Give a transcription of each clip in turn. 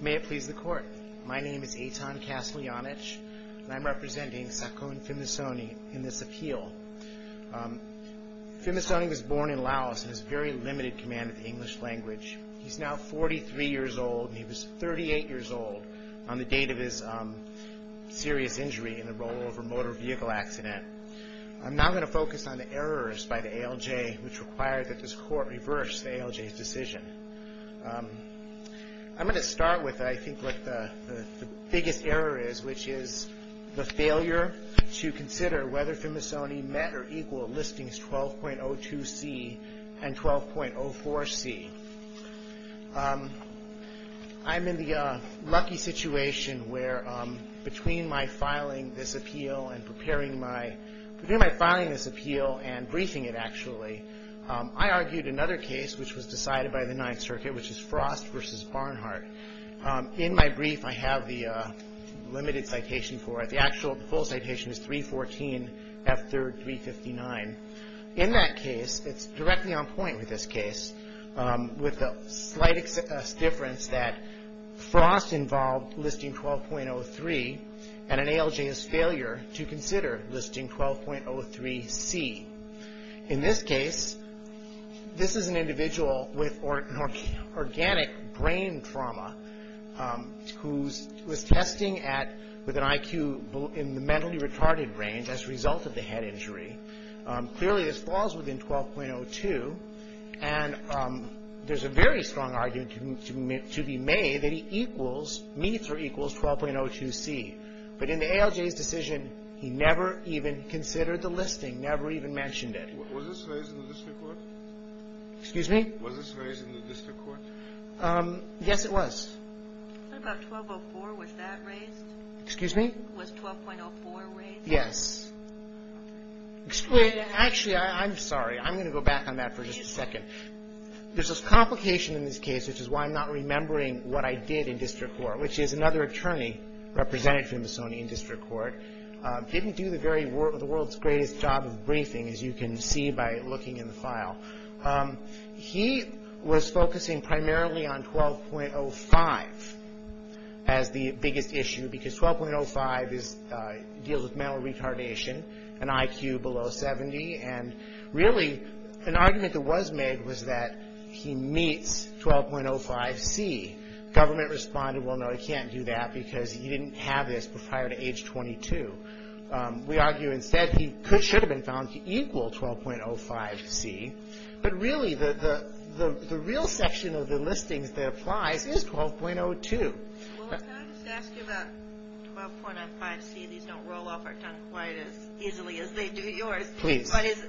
May it please the Court, my name is Eitan Castellanich, and I'm representing Sakon Phimmasone in this appeal. Phimmasone was born in Laos and has very limited command of the English language. He's now 43 years old and he was 38 years old on the date of his serious injury in the rollover motor vehicle accident. I'm now going to focus on the errors by the ALJ which require that this Court reverse the ALJ's decision. I'm going to start with I think what the biggest error is, which is the failure to consider whether Phimmasone met or equal listings 12.02c and 12.04c. I'm in the lucky situation where between my filing this appeal and preparing my, between my filing this appeal and briefing it actually, I argued another case which was decided by the Ninth Circuit which is Frost v. Barnhart. In my brief I have the limited citation for it. The actual full citation is 314 F 3rd 359. In that case, it's directly on point with this case with the slight difference that Frost involved listing 12.03 and an ALJ's failure to consider listing 12.03c. In this case, this is an individual with organic brain trauma who was testing at, with an IQ in the mentally retarded range as a result of the head injury. Clearly this falls within 12.02 and there's a very strong argument to be made that he equals, meets or equals 12.02c. But in the ALJ's decision, he never even considered the listing, never even mentioned it. Was this raised in the district court? Excuse me? Was this raised in the district court? Yes, it was. What about 12.04? Was that raised? Excuse me? Was 12.04 raised? Yes. Actually, I'm sorry. I'm going to go back on that for just a second. There's a complication in this case which is why I'm not remembering what I did in district court which is another attorney represented for Misoni in district court didn't do the very, the world's greatest job of briefing as you can see by looking in the file. He was focusing primarily on 12.05 as the biggest issue because 12.05 deals with mental retardation, an IQ below 70 and really an argument that was made was that he meets 12.05c. Government responded, well, no, he can't do that because he didn't have this prior to age 22. We argue instead he should have been found to equal 12.05c. But really, the real section of the listings that applies is 12.02. Well, can I just ask you about 12.05c? These don't roll off our tongue quite as easily as they do yours. Please. But is,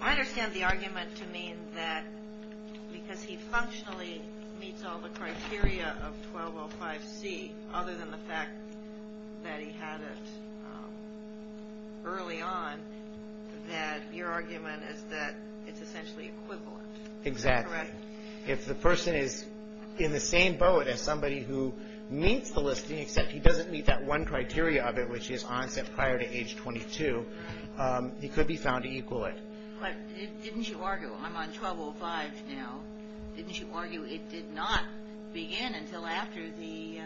I understand the argument to mean that because he functionally meets all the 12.05c, other than the fact that he had it early on, that your argument is that it's essentially equivalent, correct? Exactly. If the person is in the same boat as somebody who meets the listing except he doesn't meet that one criteria of it which is onset prior to age 22, he could be found to equal it. But didn't you argue, I'm on 12.05 now, didn't you argue it did not begin until after the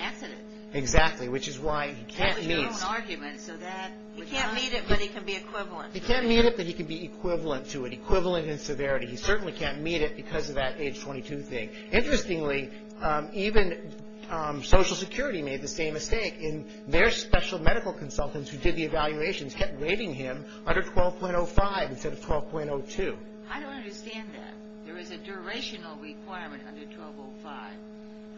accident? Exactly, which is why he can't meet. That would be an argument, so that would not... He can't meet it, but he can be equivalent, right? He can't meet it, but he can be equivalent to it, equivalent in severity. He certainly can't meet it because of that age 22 thing. Interestingly, even Social Security made the same mistake in their special medical consultants who did the evaluations kept rating him under 12.05 instead of 12.02. I don't understand that. There is a durational requirement under 12.05.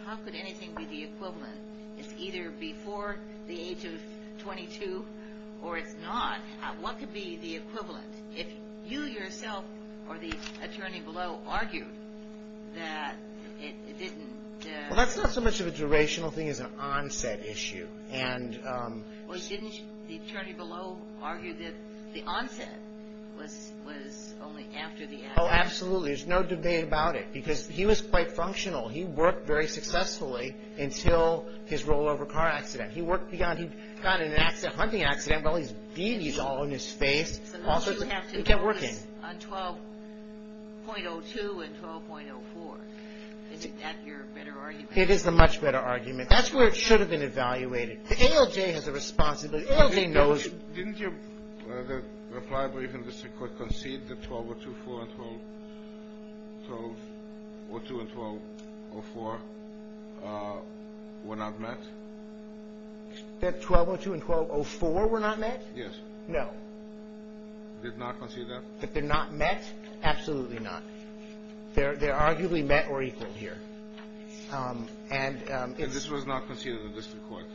How could anything be the equivalent? It's either before the age of 22 or it's not. What could be the equivalent? If you yourself or the attorney below argued that it didn't... Well, that's not so much of a durational thing as an onset issue. Well, didn't the attorney below argue that the onset was only after the accident? Oh, absolutely. There's no debate about it because he was quite functional. He worked very successfully until his rollover car accident. He worked beyond, he got in an accident, hunting accident with all these beauties all in his face. So now you have to notice on 12.02 and 12.04. Is that your better argument? It is a much better argument. That's where it should have been evaluated. The ALJ has a responsibility. ALJ knows... Didn't your reply brief in the Supreme Court concede that 12.02 and 12.04 were not met? That 12.02 and 12.04 were not met? Yes. No. Did not concede that? But they're not met? Absolutely not. They're arguably met or equal here. And it's... And this was not conceded in the district court,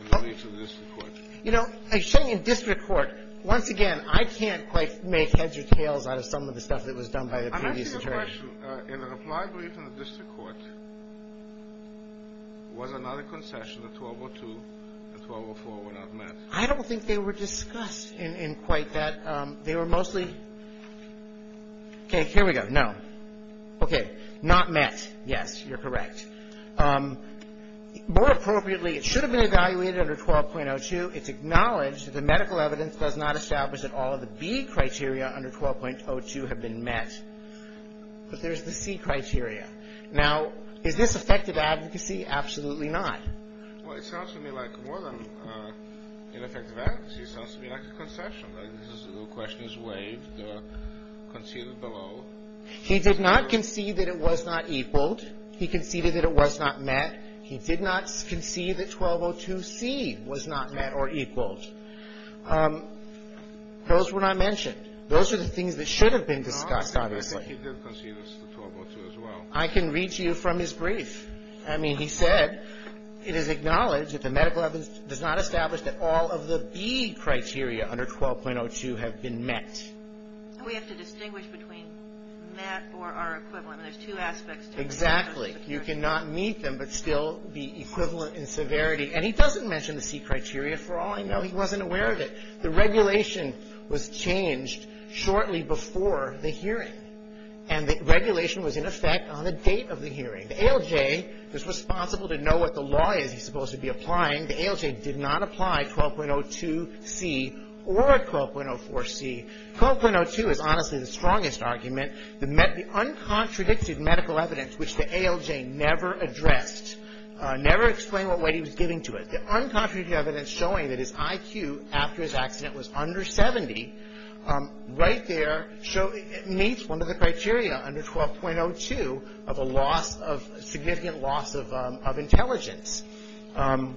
in the briefs of the district court? You know, I say in district court. Once again, I can't quite make heads or tails out of some of the stuff that was done by the previous attorney. I'm asking a question. In the reply brief in the district court, was there not a concession that 12.02 and 12.04 were not met? I don't think they were discussed in quite that... They were mostly... Okay, here we go. No. Okay. Not met. Yes, you're correct. More appropriately, it should have been evaluated under 12.02. It's acknowledged that the medical evidence does not establish that all of the B criteria under 12.02 have been met. But there's the C criteria. Now, is this effective advocacy? Absolutely not. Well, it sounds to me like more than ineffective advocacy. It sounds to me like a concession. The question is waived, conceded below. He did not concede that it was not equaled. He conceded that it was not met. He did not concede that 12.02C was not met or equaled. Those were not mentioned. Those are the things that should have been discussed, obviously. He did concede that it's the 12.02 as well. I can read you from his brief. I mean, he said it is acknowledged that the medical evidence does not establish that all of the B criteria under 12.02 have been met. We have to distinguish between met or are equivalent. There's two aspects to it. Exactly. You cannot meet them but still be equivalent in severity. And he doesn't mention the C criteria for all I know. He wasn't aware of it. The regulation was changed shortly before the hearing. And the regulation was in effect on the date of the hearing. The ALJ is responsible to know what the law is he's supposed to be applying. The ALJ did not apply 12.02C or 12.04C. 12.02 is honestly the strongest argument. The uncontradicted medical evidence which the ALJ never addressed, never explained what weight he was giving to it. The uncontradicted evidence showing that his IQ after his accident was under 70 right there meets one of the criteria under 12.02 of a significant loss of intelligence. Once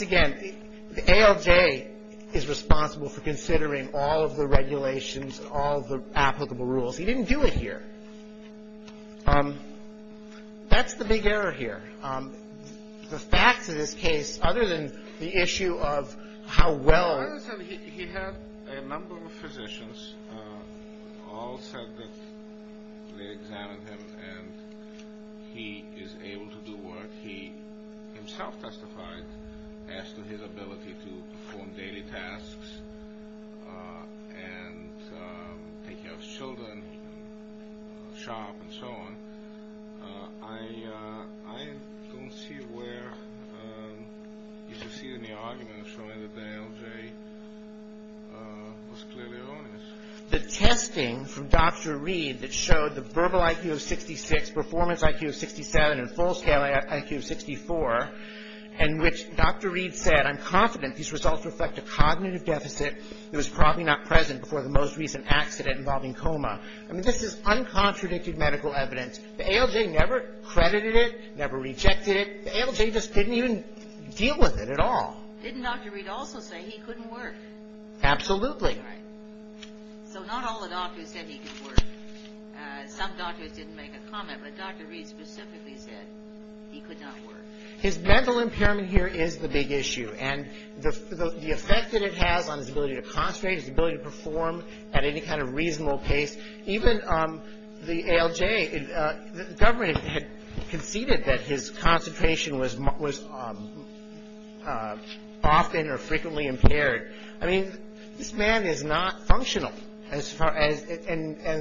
again, the ALJ is responsible for considering all of the regulations, all of the applicable rules. He didn't do it here. That's the big error here. The facts of this case, other than the issue of how well... He had a number of physicians. All said that they examined him and he is able to do work. He himself testified as to his ability to perform daily tasks and take care of children, shop and so on. I don't see where you can see any arguments showing that the ALJ was clearly erroneous. The testing from Dr. Reed that showed the verbal IQ of 66, performance IQ of 67 and full scale IQ of 64 in which Dr. Reed said, I'm confident these results reflect a cognitive deficit that was probably not present before the most recent accident involving coma. I mean, this is uncontradicted medical evidence. The ALJ never credited it, never rejected it. The ALJ just didn't even deal with it at all. Didn't Dr. Reed also say he couldn't work? Absolutely. So not all the doctors said he could work. Some doctors didn't make a comment. But Dr. Reed specifically said he could not work. His mental impairment here is the big issue. And the effect that it has on his ability to concentrate, his ability to perform at any kind of reasonable pace, even the ALJ, the government had conceded that his concentration was often or frequently impaired. I mean, this man is not functional. And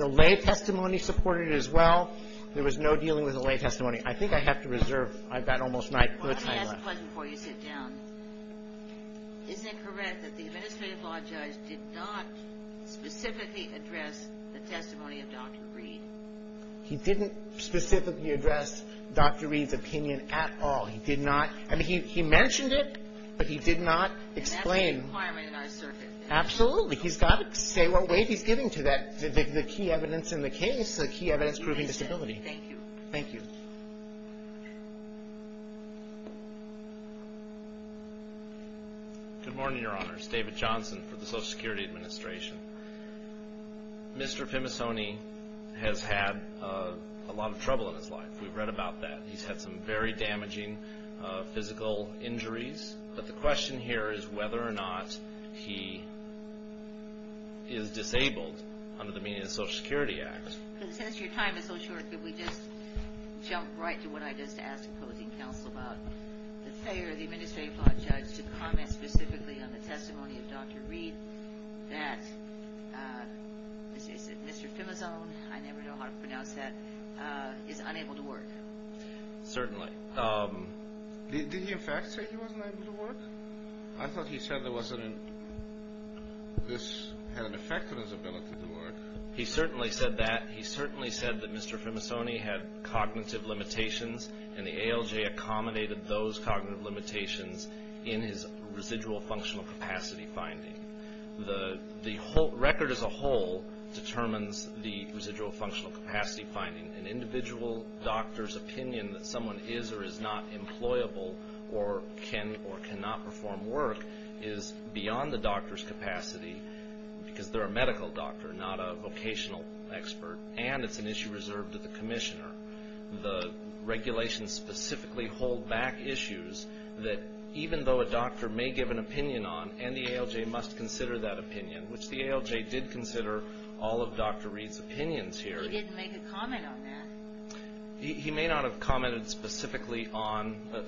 the lay testimony supported it as well. There was no dealing with the lay testimony. I think I have to reserve. I've got almost my time left. Let me ask a question before you sit down. Is it correct that the administrative law judge did not specifically address the testimony of Dr. Reed? He didn't specifically address Dr. Reed's opinion at all. He did not. I mean, he mentioned it, but he did not explain. And that's a requirement in our circuit. Absolutely. He's got to say what weight he's giving to that, the key evidence in the case, the key evidence proving disability. Thank you. Thank you. Good morning, Your Honors. David Johnson for the Social Security Administration. Mr. Femisoni has had a lot of trouble in his life. We've read about that. He's had some very damaging physical injuries. But the question here is whether or not he is disabled under the Social Security Act. Since your time is so short, could we just jump right to what I just asked opposing counsel about, the failure of the administrative law judge to comment specifically on the testimony of Dr. Reed, that Mr. Femisoni, I never know how to pronounce that, is unable to work. Certainly. Did he in fact say he wasn't able to work? I thought he said this had an effect on his ability to work. He certainly said that. He certainly said that Mr. Femisoni had cognitive limitations and the ALJ accommodated those cognitive limitations in his residual functional capacity finding. The record as a whole determines the residual functional capacity finding. An individual doctor's opinion that someone is or is not employable or cannot perform work is beyond the doctor's capacity because they're a medical doctor, not a vocational expert, and it's an issue reserved to the commissioner. The regulations specifically hold back issues that even though a doctor may give an opinion on and the ALJ must consider that opinion, which the ALJ did consider all of Dr. Reed's opinions here. He didn't make a comment on that. He may not have commented specifically on the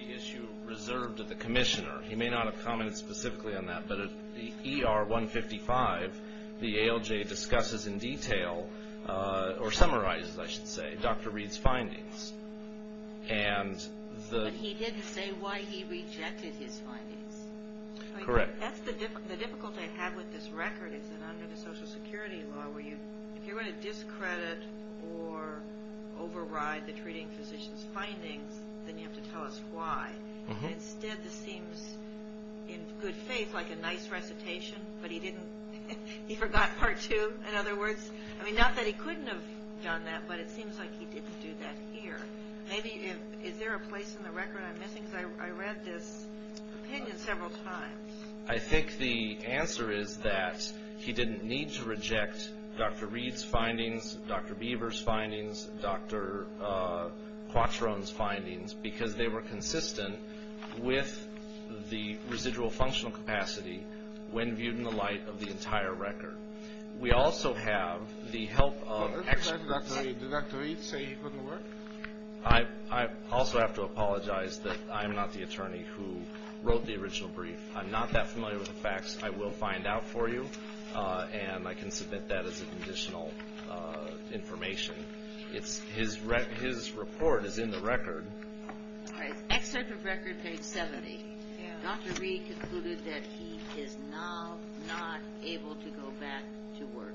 issue reserved to the commissioner. He may not have commented specifically on that, but at ER 155 the ALJ discusses in detail or summarizes, I should say, Dr. Reed's findings. But he didn't say why he rejected his findings. Correct. The difficulty I have with this record is that under the Social Security law, if you're going to discredit or override the treating physician's findings, then you have to tell us why. Instead, this seems in good faith like a nice recitation, but he forgot part two, in other words. Not that he couldn't have done that, but it seems like he didn't do that here. Maybe is there a place in the record I'm missing because I read this opinion several times. I think the answer is that he didn't need to reject Dr. Reed's findings, Dr. Beaver's findings, Dr. Quattrone's findings because they were consistent with the residual functional capacity when viewed in the light of the entire record. We also have the help of experts. Do Dr. Reed say he couldn't work? I also have to apologize that I'm not the attorney who wrote the original brief. I'm not that familiar with the facts. I will find out for you, and I can submit that as additional information. His report is in the record. Excerpt of record page 70. Dr. Reed concluded that he is now not able to go back to work.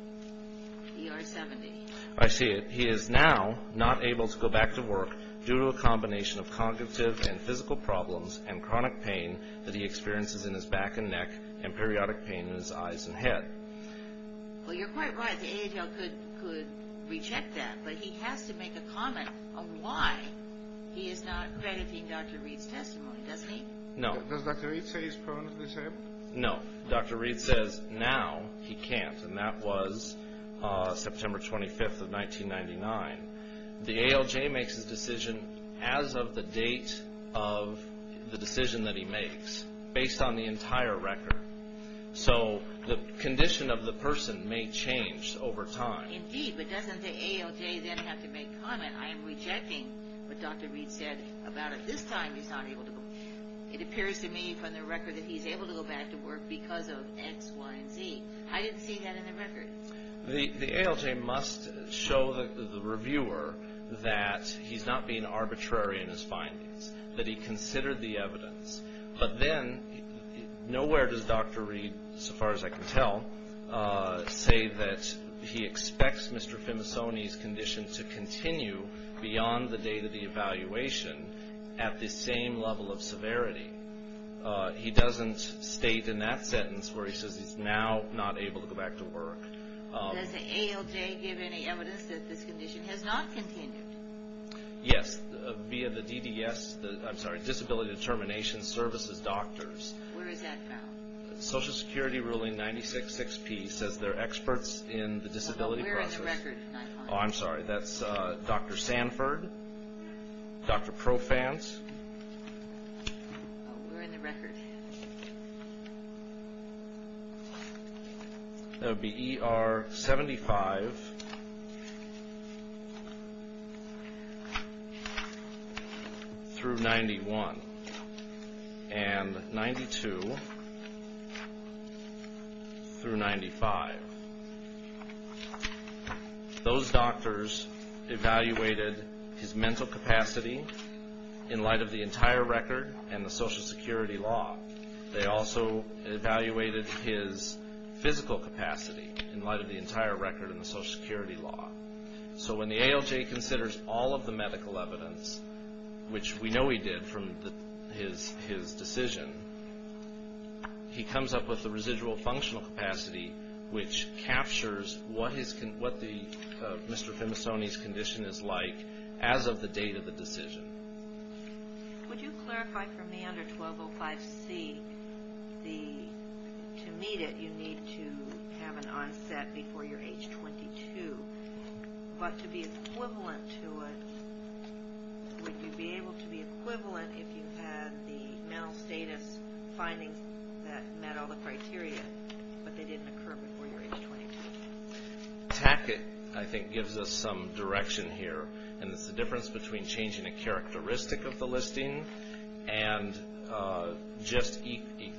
ER 70. I see it. He is now not able to go back to work due to a combination of cognitive and physical problems and chronic pain that he experiences in his back and neck and periodic pain in his eyes and head. Well, you're quite right. The AHL could reject that, but he has to make a comment on why he is not crediting Dr. Reed's testimony, doesn't he? No. Does Dr. Reed say he's permanently disabled? No. Dr. Reed says now he can't, and that was September 25th of 1999. The ALJ makes his decision as of the date of the decision that he makes based on the entire record. So the condition of the person may change over time. Indeed, but doesn't the ALJ then have to make a comment? I am rejecting what Dr. Reed said about at this time he's not able to go. It appears to me from the record that he's able to go back to work because of X, Y, and Z. I didn't see that in the record. The ALJ must show the reviewer that he's not being arbitrary in his findings, that he considered the evidence. But then nowhere does Dr. Reed, so far as I can tell, say that he expects Mr. Femisoni's condition to continue beyond the date of the evaluation at the same level of severity. He doesn't state in that sentence where he says he's now not able to go back to work. Does the ALJ give any evidence that this condition has not continued? Yes, via the DDS, I'm sorry, Disability Determination Services Doctors. Where is that found? Social Security ruling 966P says they're experts in the disability process. Oh, we're in the record, Nikon. Oh, I'm sorry, that's Dr. Sanford, Dr. Profance. That would be ER 75 through 91, and 92 through 95. Those doctors evaluated his mental capacity in light of the entire record and the Social Security law. They also evaluated his physical capacity in light of the entire record and the Social Security law. So when the ALJ considers all of the medical evidence, which we know he did from his decision, he comes up with the residual functional capacity, which captures what Mr. Femisoni's condition is like as of the date of the decision. Would you clarify for me under 1205C, to meet it, you need to have an onset before you're age 22. But to be equivalent to it, would you be able to be equivalent if you had the mental status findings that met all the criteria, but they didn't occur before you were age 22? Tackett, I think, gives us some direction here, and it's the difference between changing a characteristic of the listing and just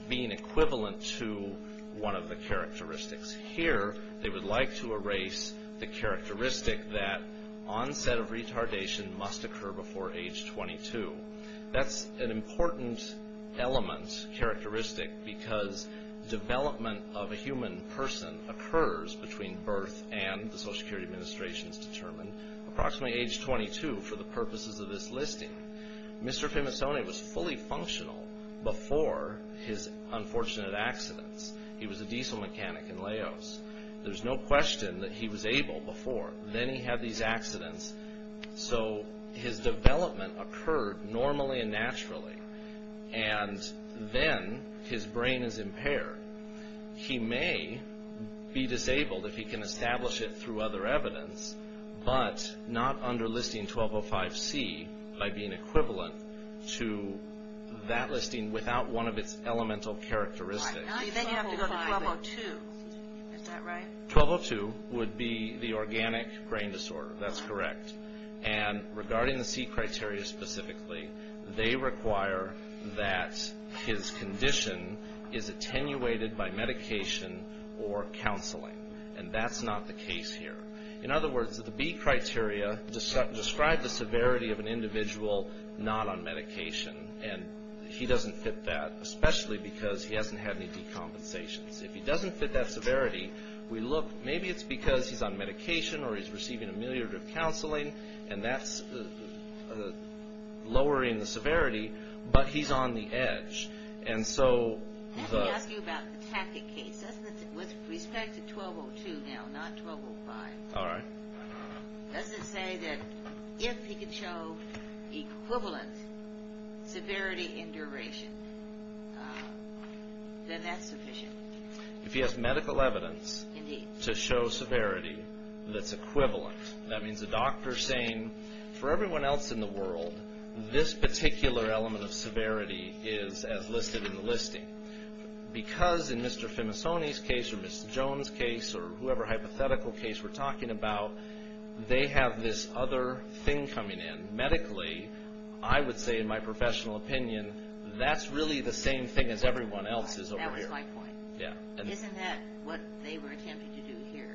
being equivalent to one of the characteristics. Here, they would like to erase the characteristic that onset of retardation must occur before age 22. That's an important element, characteristic, because development of a human person occurs between birth and, the Social Security Administration has determined, approximately age 22 for the purposes of this listing. Mr. Femisoni was fully functional before his unfortunate accidents. He was a diesel mechanic in Laos. There's no question that he was able before. Then he had these accidents, so his development occurred normally and naturally, and then his brain is impaired. He may be disabled if he can establish it through other evidence, but not under listing 1205C by being equivalent to that listing without one of its elemental characteristics. Then you have to go to 1202. Is that right? 1202 would be the organic brain disorder. That's correct. And regarding the C criteria specifically, they require that his condition is attenuated by medication or counseling, and that's not the case here. In other words, the B criteria describe the severity of an individual not on medication, and he doesn't fit that, especially because he hasn't had any decompensations. If he doesn't fit that severity, we look. Maybe it's because he's on medication or he's receiving ameliorative counseling, and that's lowering the severity, but he's on the edge. Let me ask you about the tactic case. With respect to 1202 now, not 1205, does it say that if he could show equivalent severity and duration, then that's sufficient? If he has medical evidence to show severity that's equivalent, that means the doctor is saying, for everyone else in the world, this particular element of severity is as listed in the listing. Because in Mr. Femisoni's case or Ms. Jones' case or whoever hypothetical case we're talking about, they have this other thing coming in. Medically, I would say in my professional opinion, that's really the same thing as everyone else's over here. That was my point. Isn't that what they were attempting to do here?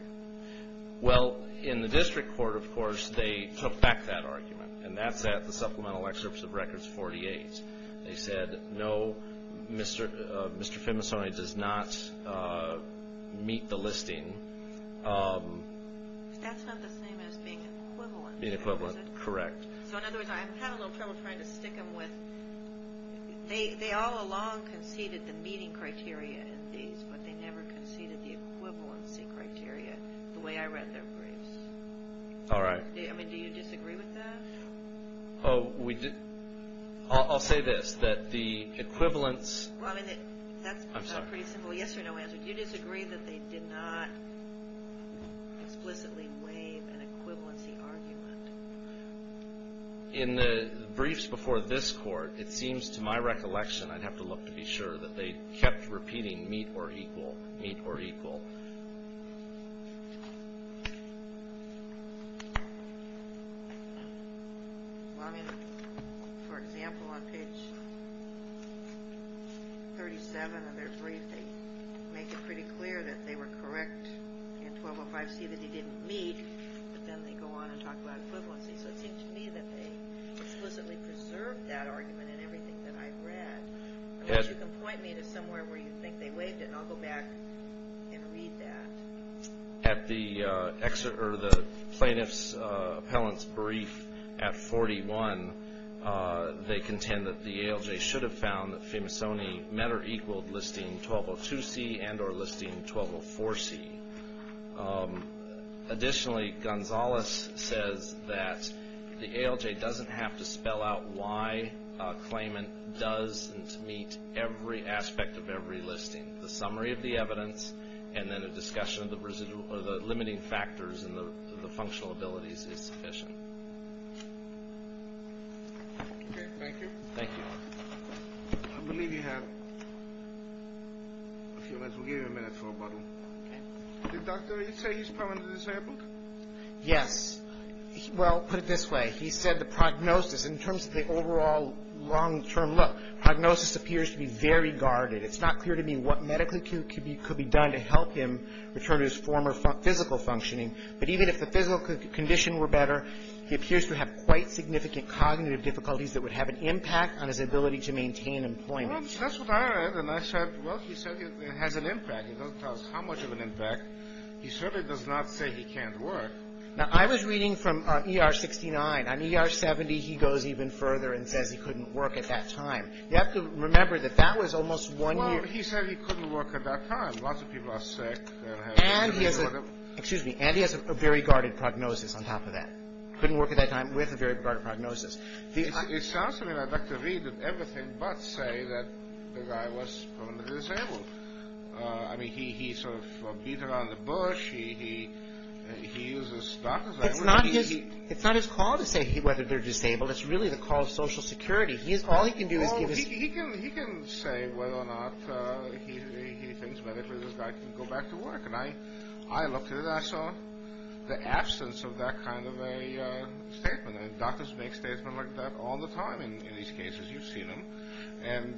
Well, in the district court, of course, they took back that argument, and that's at the supplemental excerpts of records 48. They said, no, Mr. Femisoni does not meet the listing. That's not the same as being equivalent. Being equivalent, correct. So in other words, I'm having a little trouble trying to stick them with, they all along conceded the meeting criteria in these, but they never conceded the equivalency criteria the way I read their briefs. All right. I mean, do you disagree with that? I'll say this, that the equivalence I'm sorry. Yes or no answer. Do you disagree that they did not explicitly waive an equivalency argument? In the briefs before this court, it seems to my recollection, I'd have to look to be sure, that they kept repeating meet or equal, meet or equal. Well, I mean, for example, on page 37 of their brief, they make it pretty clear that they were correct in 1205C that they didn't meet, but then they go on and talk about equivalency. So it seems to me that they explicitly preserved that argument in everything that I read. You can point me to somewhere where you think they waived it, and I'll go back and read that. At the plaintiff's appellant's brief at 41, they contend that the ALJ should have found that Femasoni met or equaled listing 1202C and or listing 1204C. Additionally, Gonzalez says that the ALJ doesn't have to spell out why a claimant doesn't meet every aspect of every listing. The summary of the evidence and then a discussion of the limiting factors and the functional abilities is sufficient. Okay, thank you. Thank you. I believe you have a few minutes. We'll give you a minute for a bottle. Okay. Did Dr. Reed say he's permanently disabled? Yes. Well, put it this way. He said the prognosis, in terms of the overall long-term look, prognosis appears to be very guarded. It's not clear to me what medically could be done to help him return to his former physical functioning. But even if the physical condition were better, he appears to have quite significant cognitive difficulties that would have an impact on his ability to maintain employment. Well, that's what I read. And I said, well, he said it has an impact. It doesn't tell us how much of an impact. He certainly does not say he can't work. Now, I was reading from ER 69. On ER 70, he goes even further and says he couldn't work at that time. You have to remember that that was almost one year. Well, he said he couldn't work at that time. Lots of people are sick. And he has a very guarded prognosis on top of that. Couldn't work at that time with a very guarded prognosis. It sounds to me like Dr. Reed did everything but say that the guy was permanently disabled. I mean, he sort of beat around the bush. He uses Dr. Reed. It's not his call to say whether they're disabled. It's really the call of Social Security. All he can do is give us. He can say whether or not he thinks medically this guy can go back to work. And I looked at it. I saw the absence of that kind of a statement. And doctors make statements like that all the time in these cases. You've seen them. And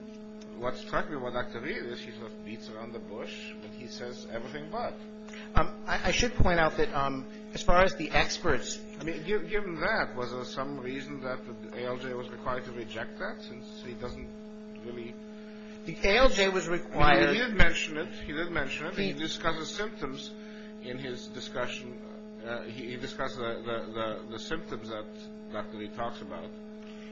what struck me about Dr. Reed is he sort of beats around the bush when he says everything but. I should point out that as far as the experts. Given that, was there some reason that ALJ was required to reject that since he doesn't really. ALJ was required. He did mention it. He did mention it. He discusses symptoms in his discussion. He discussed the symptoms that Dr. Reed talks about.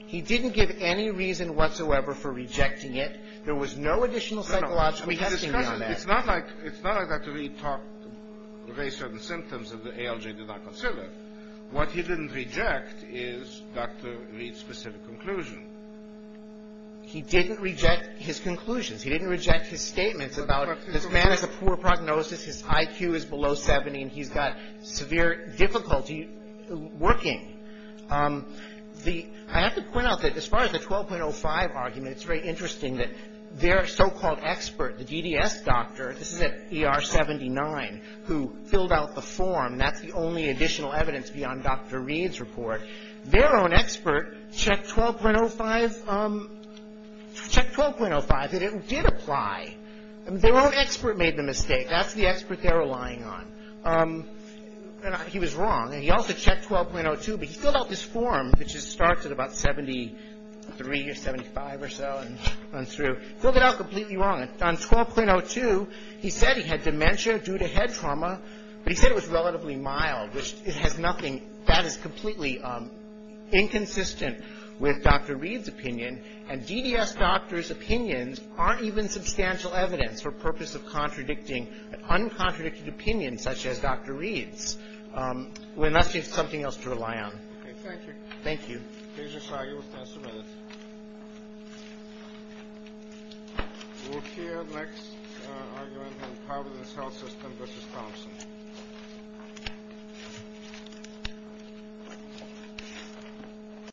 He didn't give any reason whatsoever for rejecting it. There was no additional psychological testing on that. It's not like Dr. Reed talked about certain symptoms that ALJ did not consider. What he didn't reject is Dr. Reed's specific conclusion. He didn't reject his conclusions. He didn't reject his statements about this man has a poor prognosis, his IQ is below 70, and he's got severe difficulty working. I have to point out that as far as the 12.05 argument, it's very interesting that their so-called expert, the DDS doctor, this is at ER 79, who filled out the form. That's the only additional evidence beyond Dr. Reed's report. Their own expert checked 12.05. Checked 12.05. It did apply. Their own expert made the mistake. That's the expert they're relying on. He was wrong. He also checked 12.02, but he filled out this form, which starts at about 73 or 75 or so and runs through. Filled it out completely wrong. On 12.02, he said he had dementia due to head trauma, but he said it was relatively mild, which it has nothing. That is completely inconsistent with Dr. Reed's opinion, and DDS doctors' opinions aren't even substantial evidence for purpose of contradicting an uncontradicted opinion such as Dr. Reed's. We're not seeing something else to rely on. Okay. Thank you. Thank you. These are the arguments that are submitted. We'll hear the next argument in the Providence Health System, Mrs. Thompson.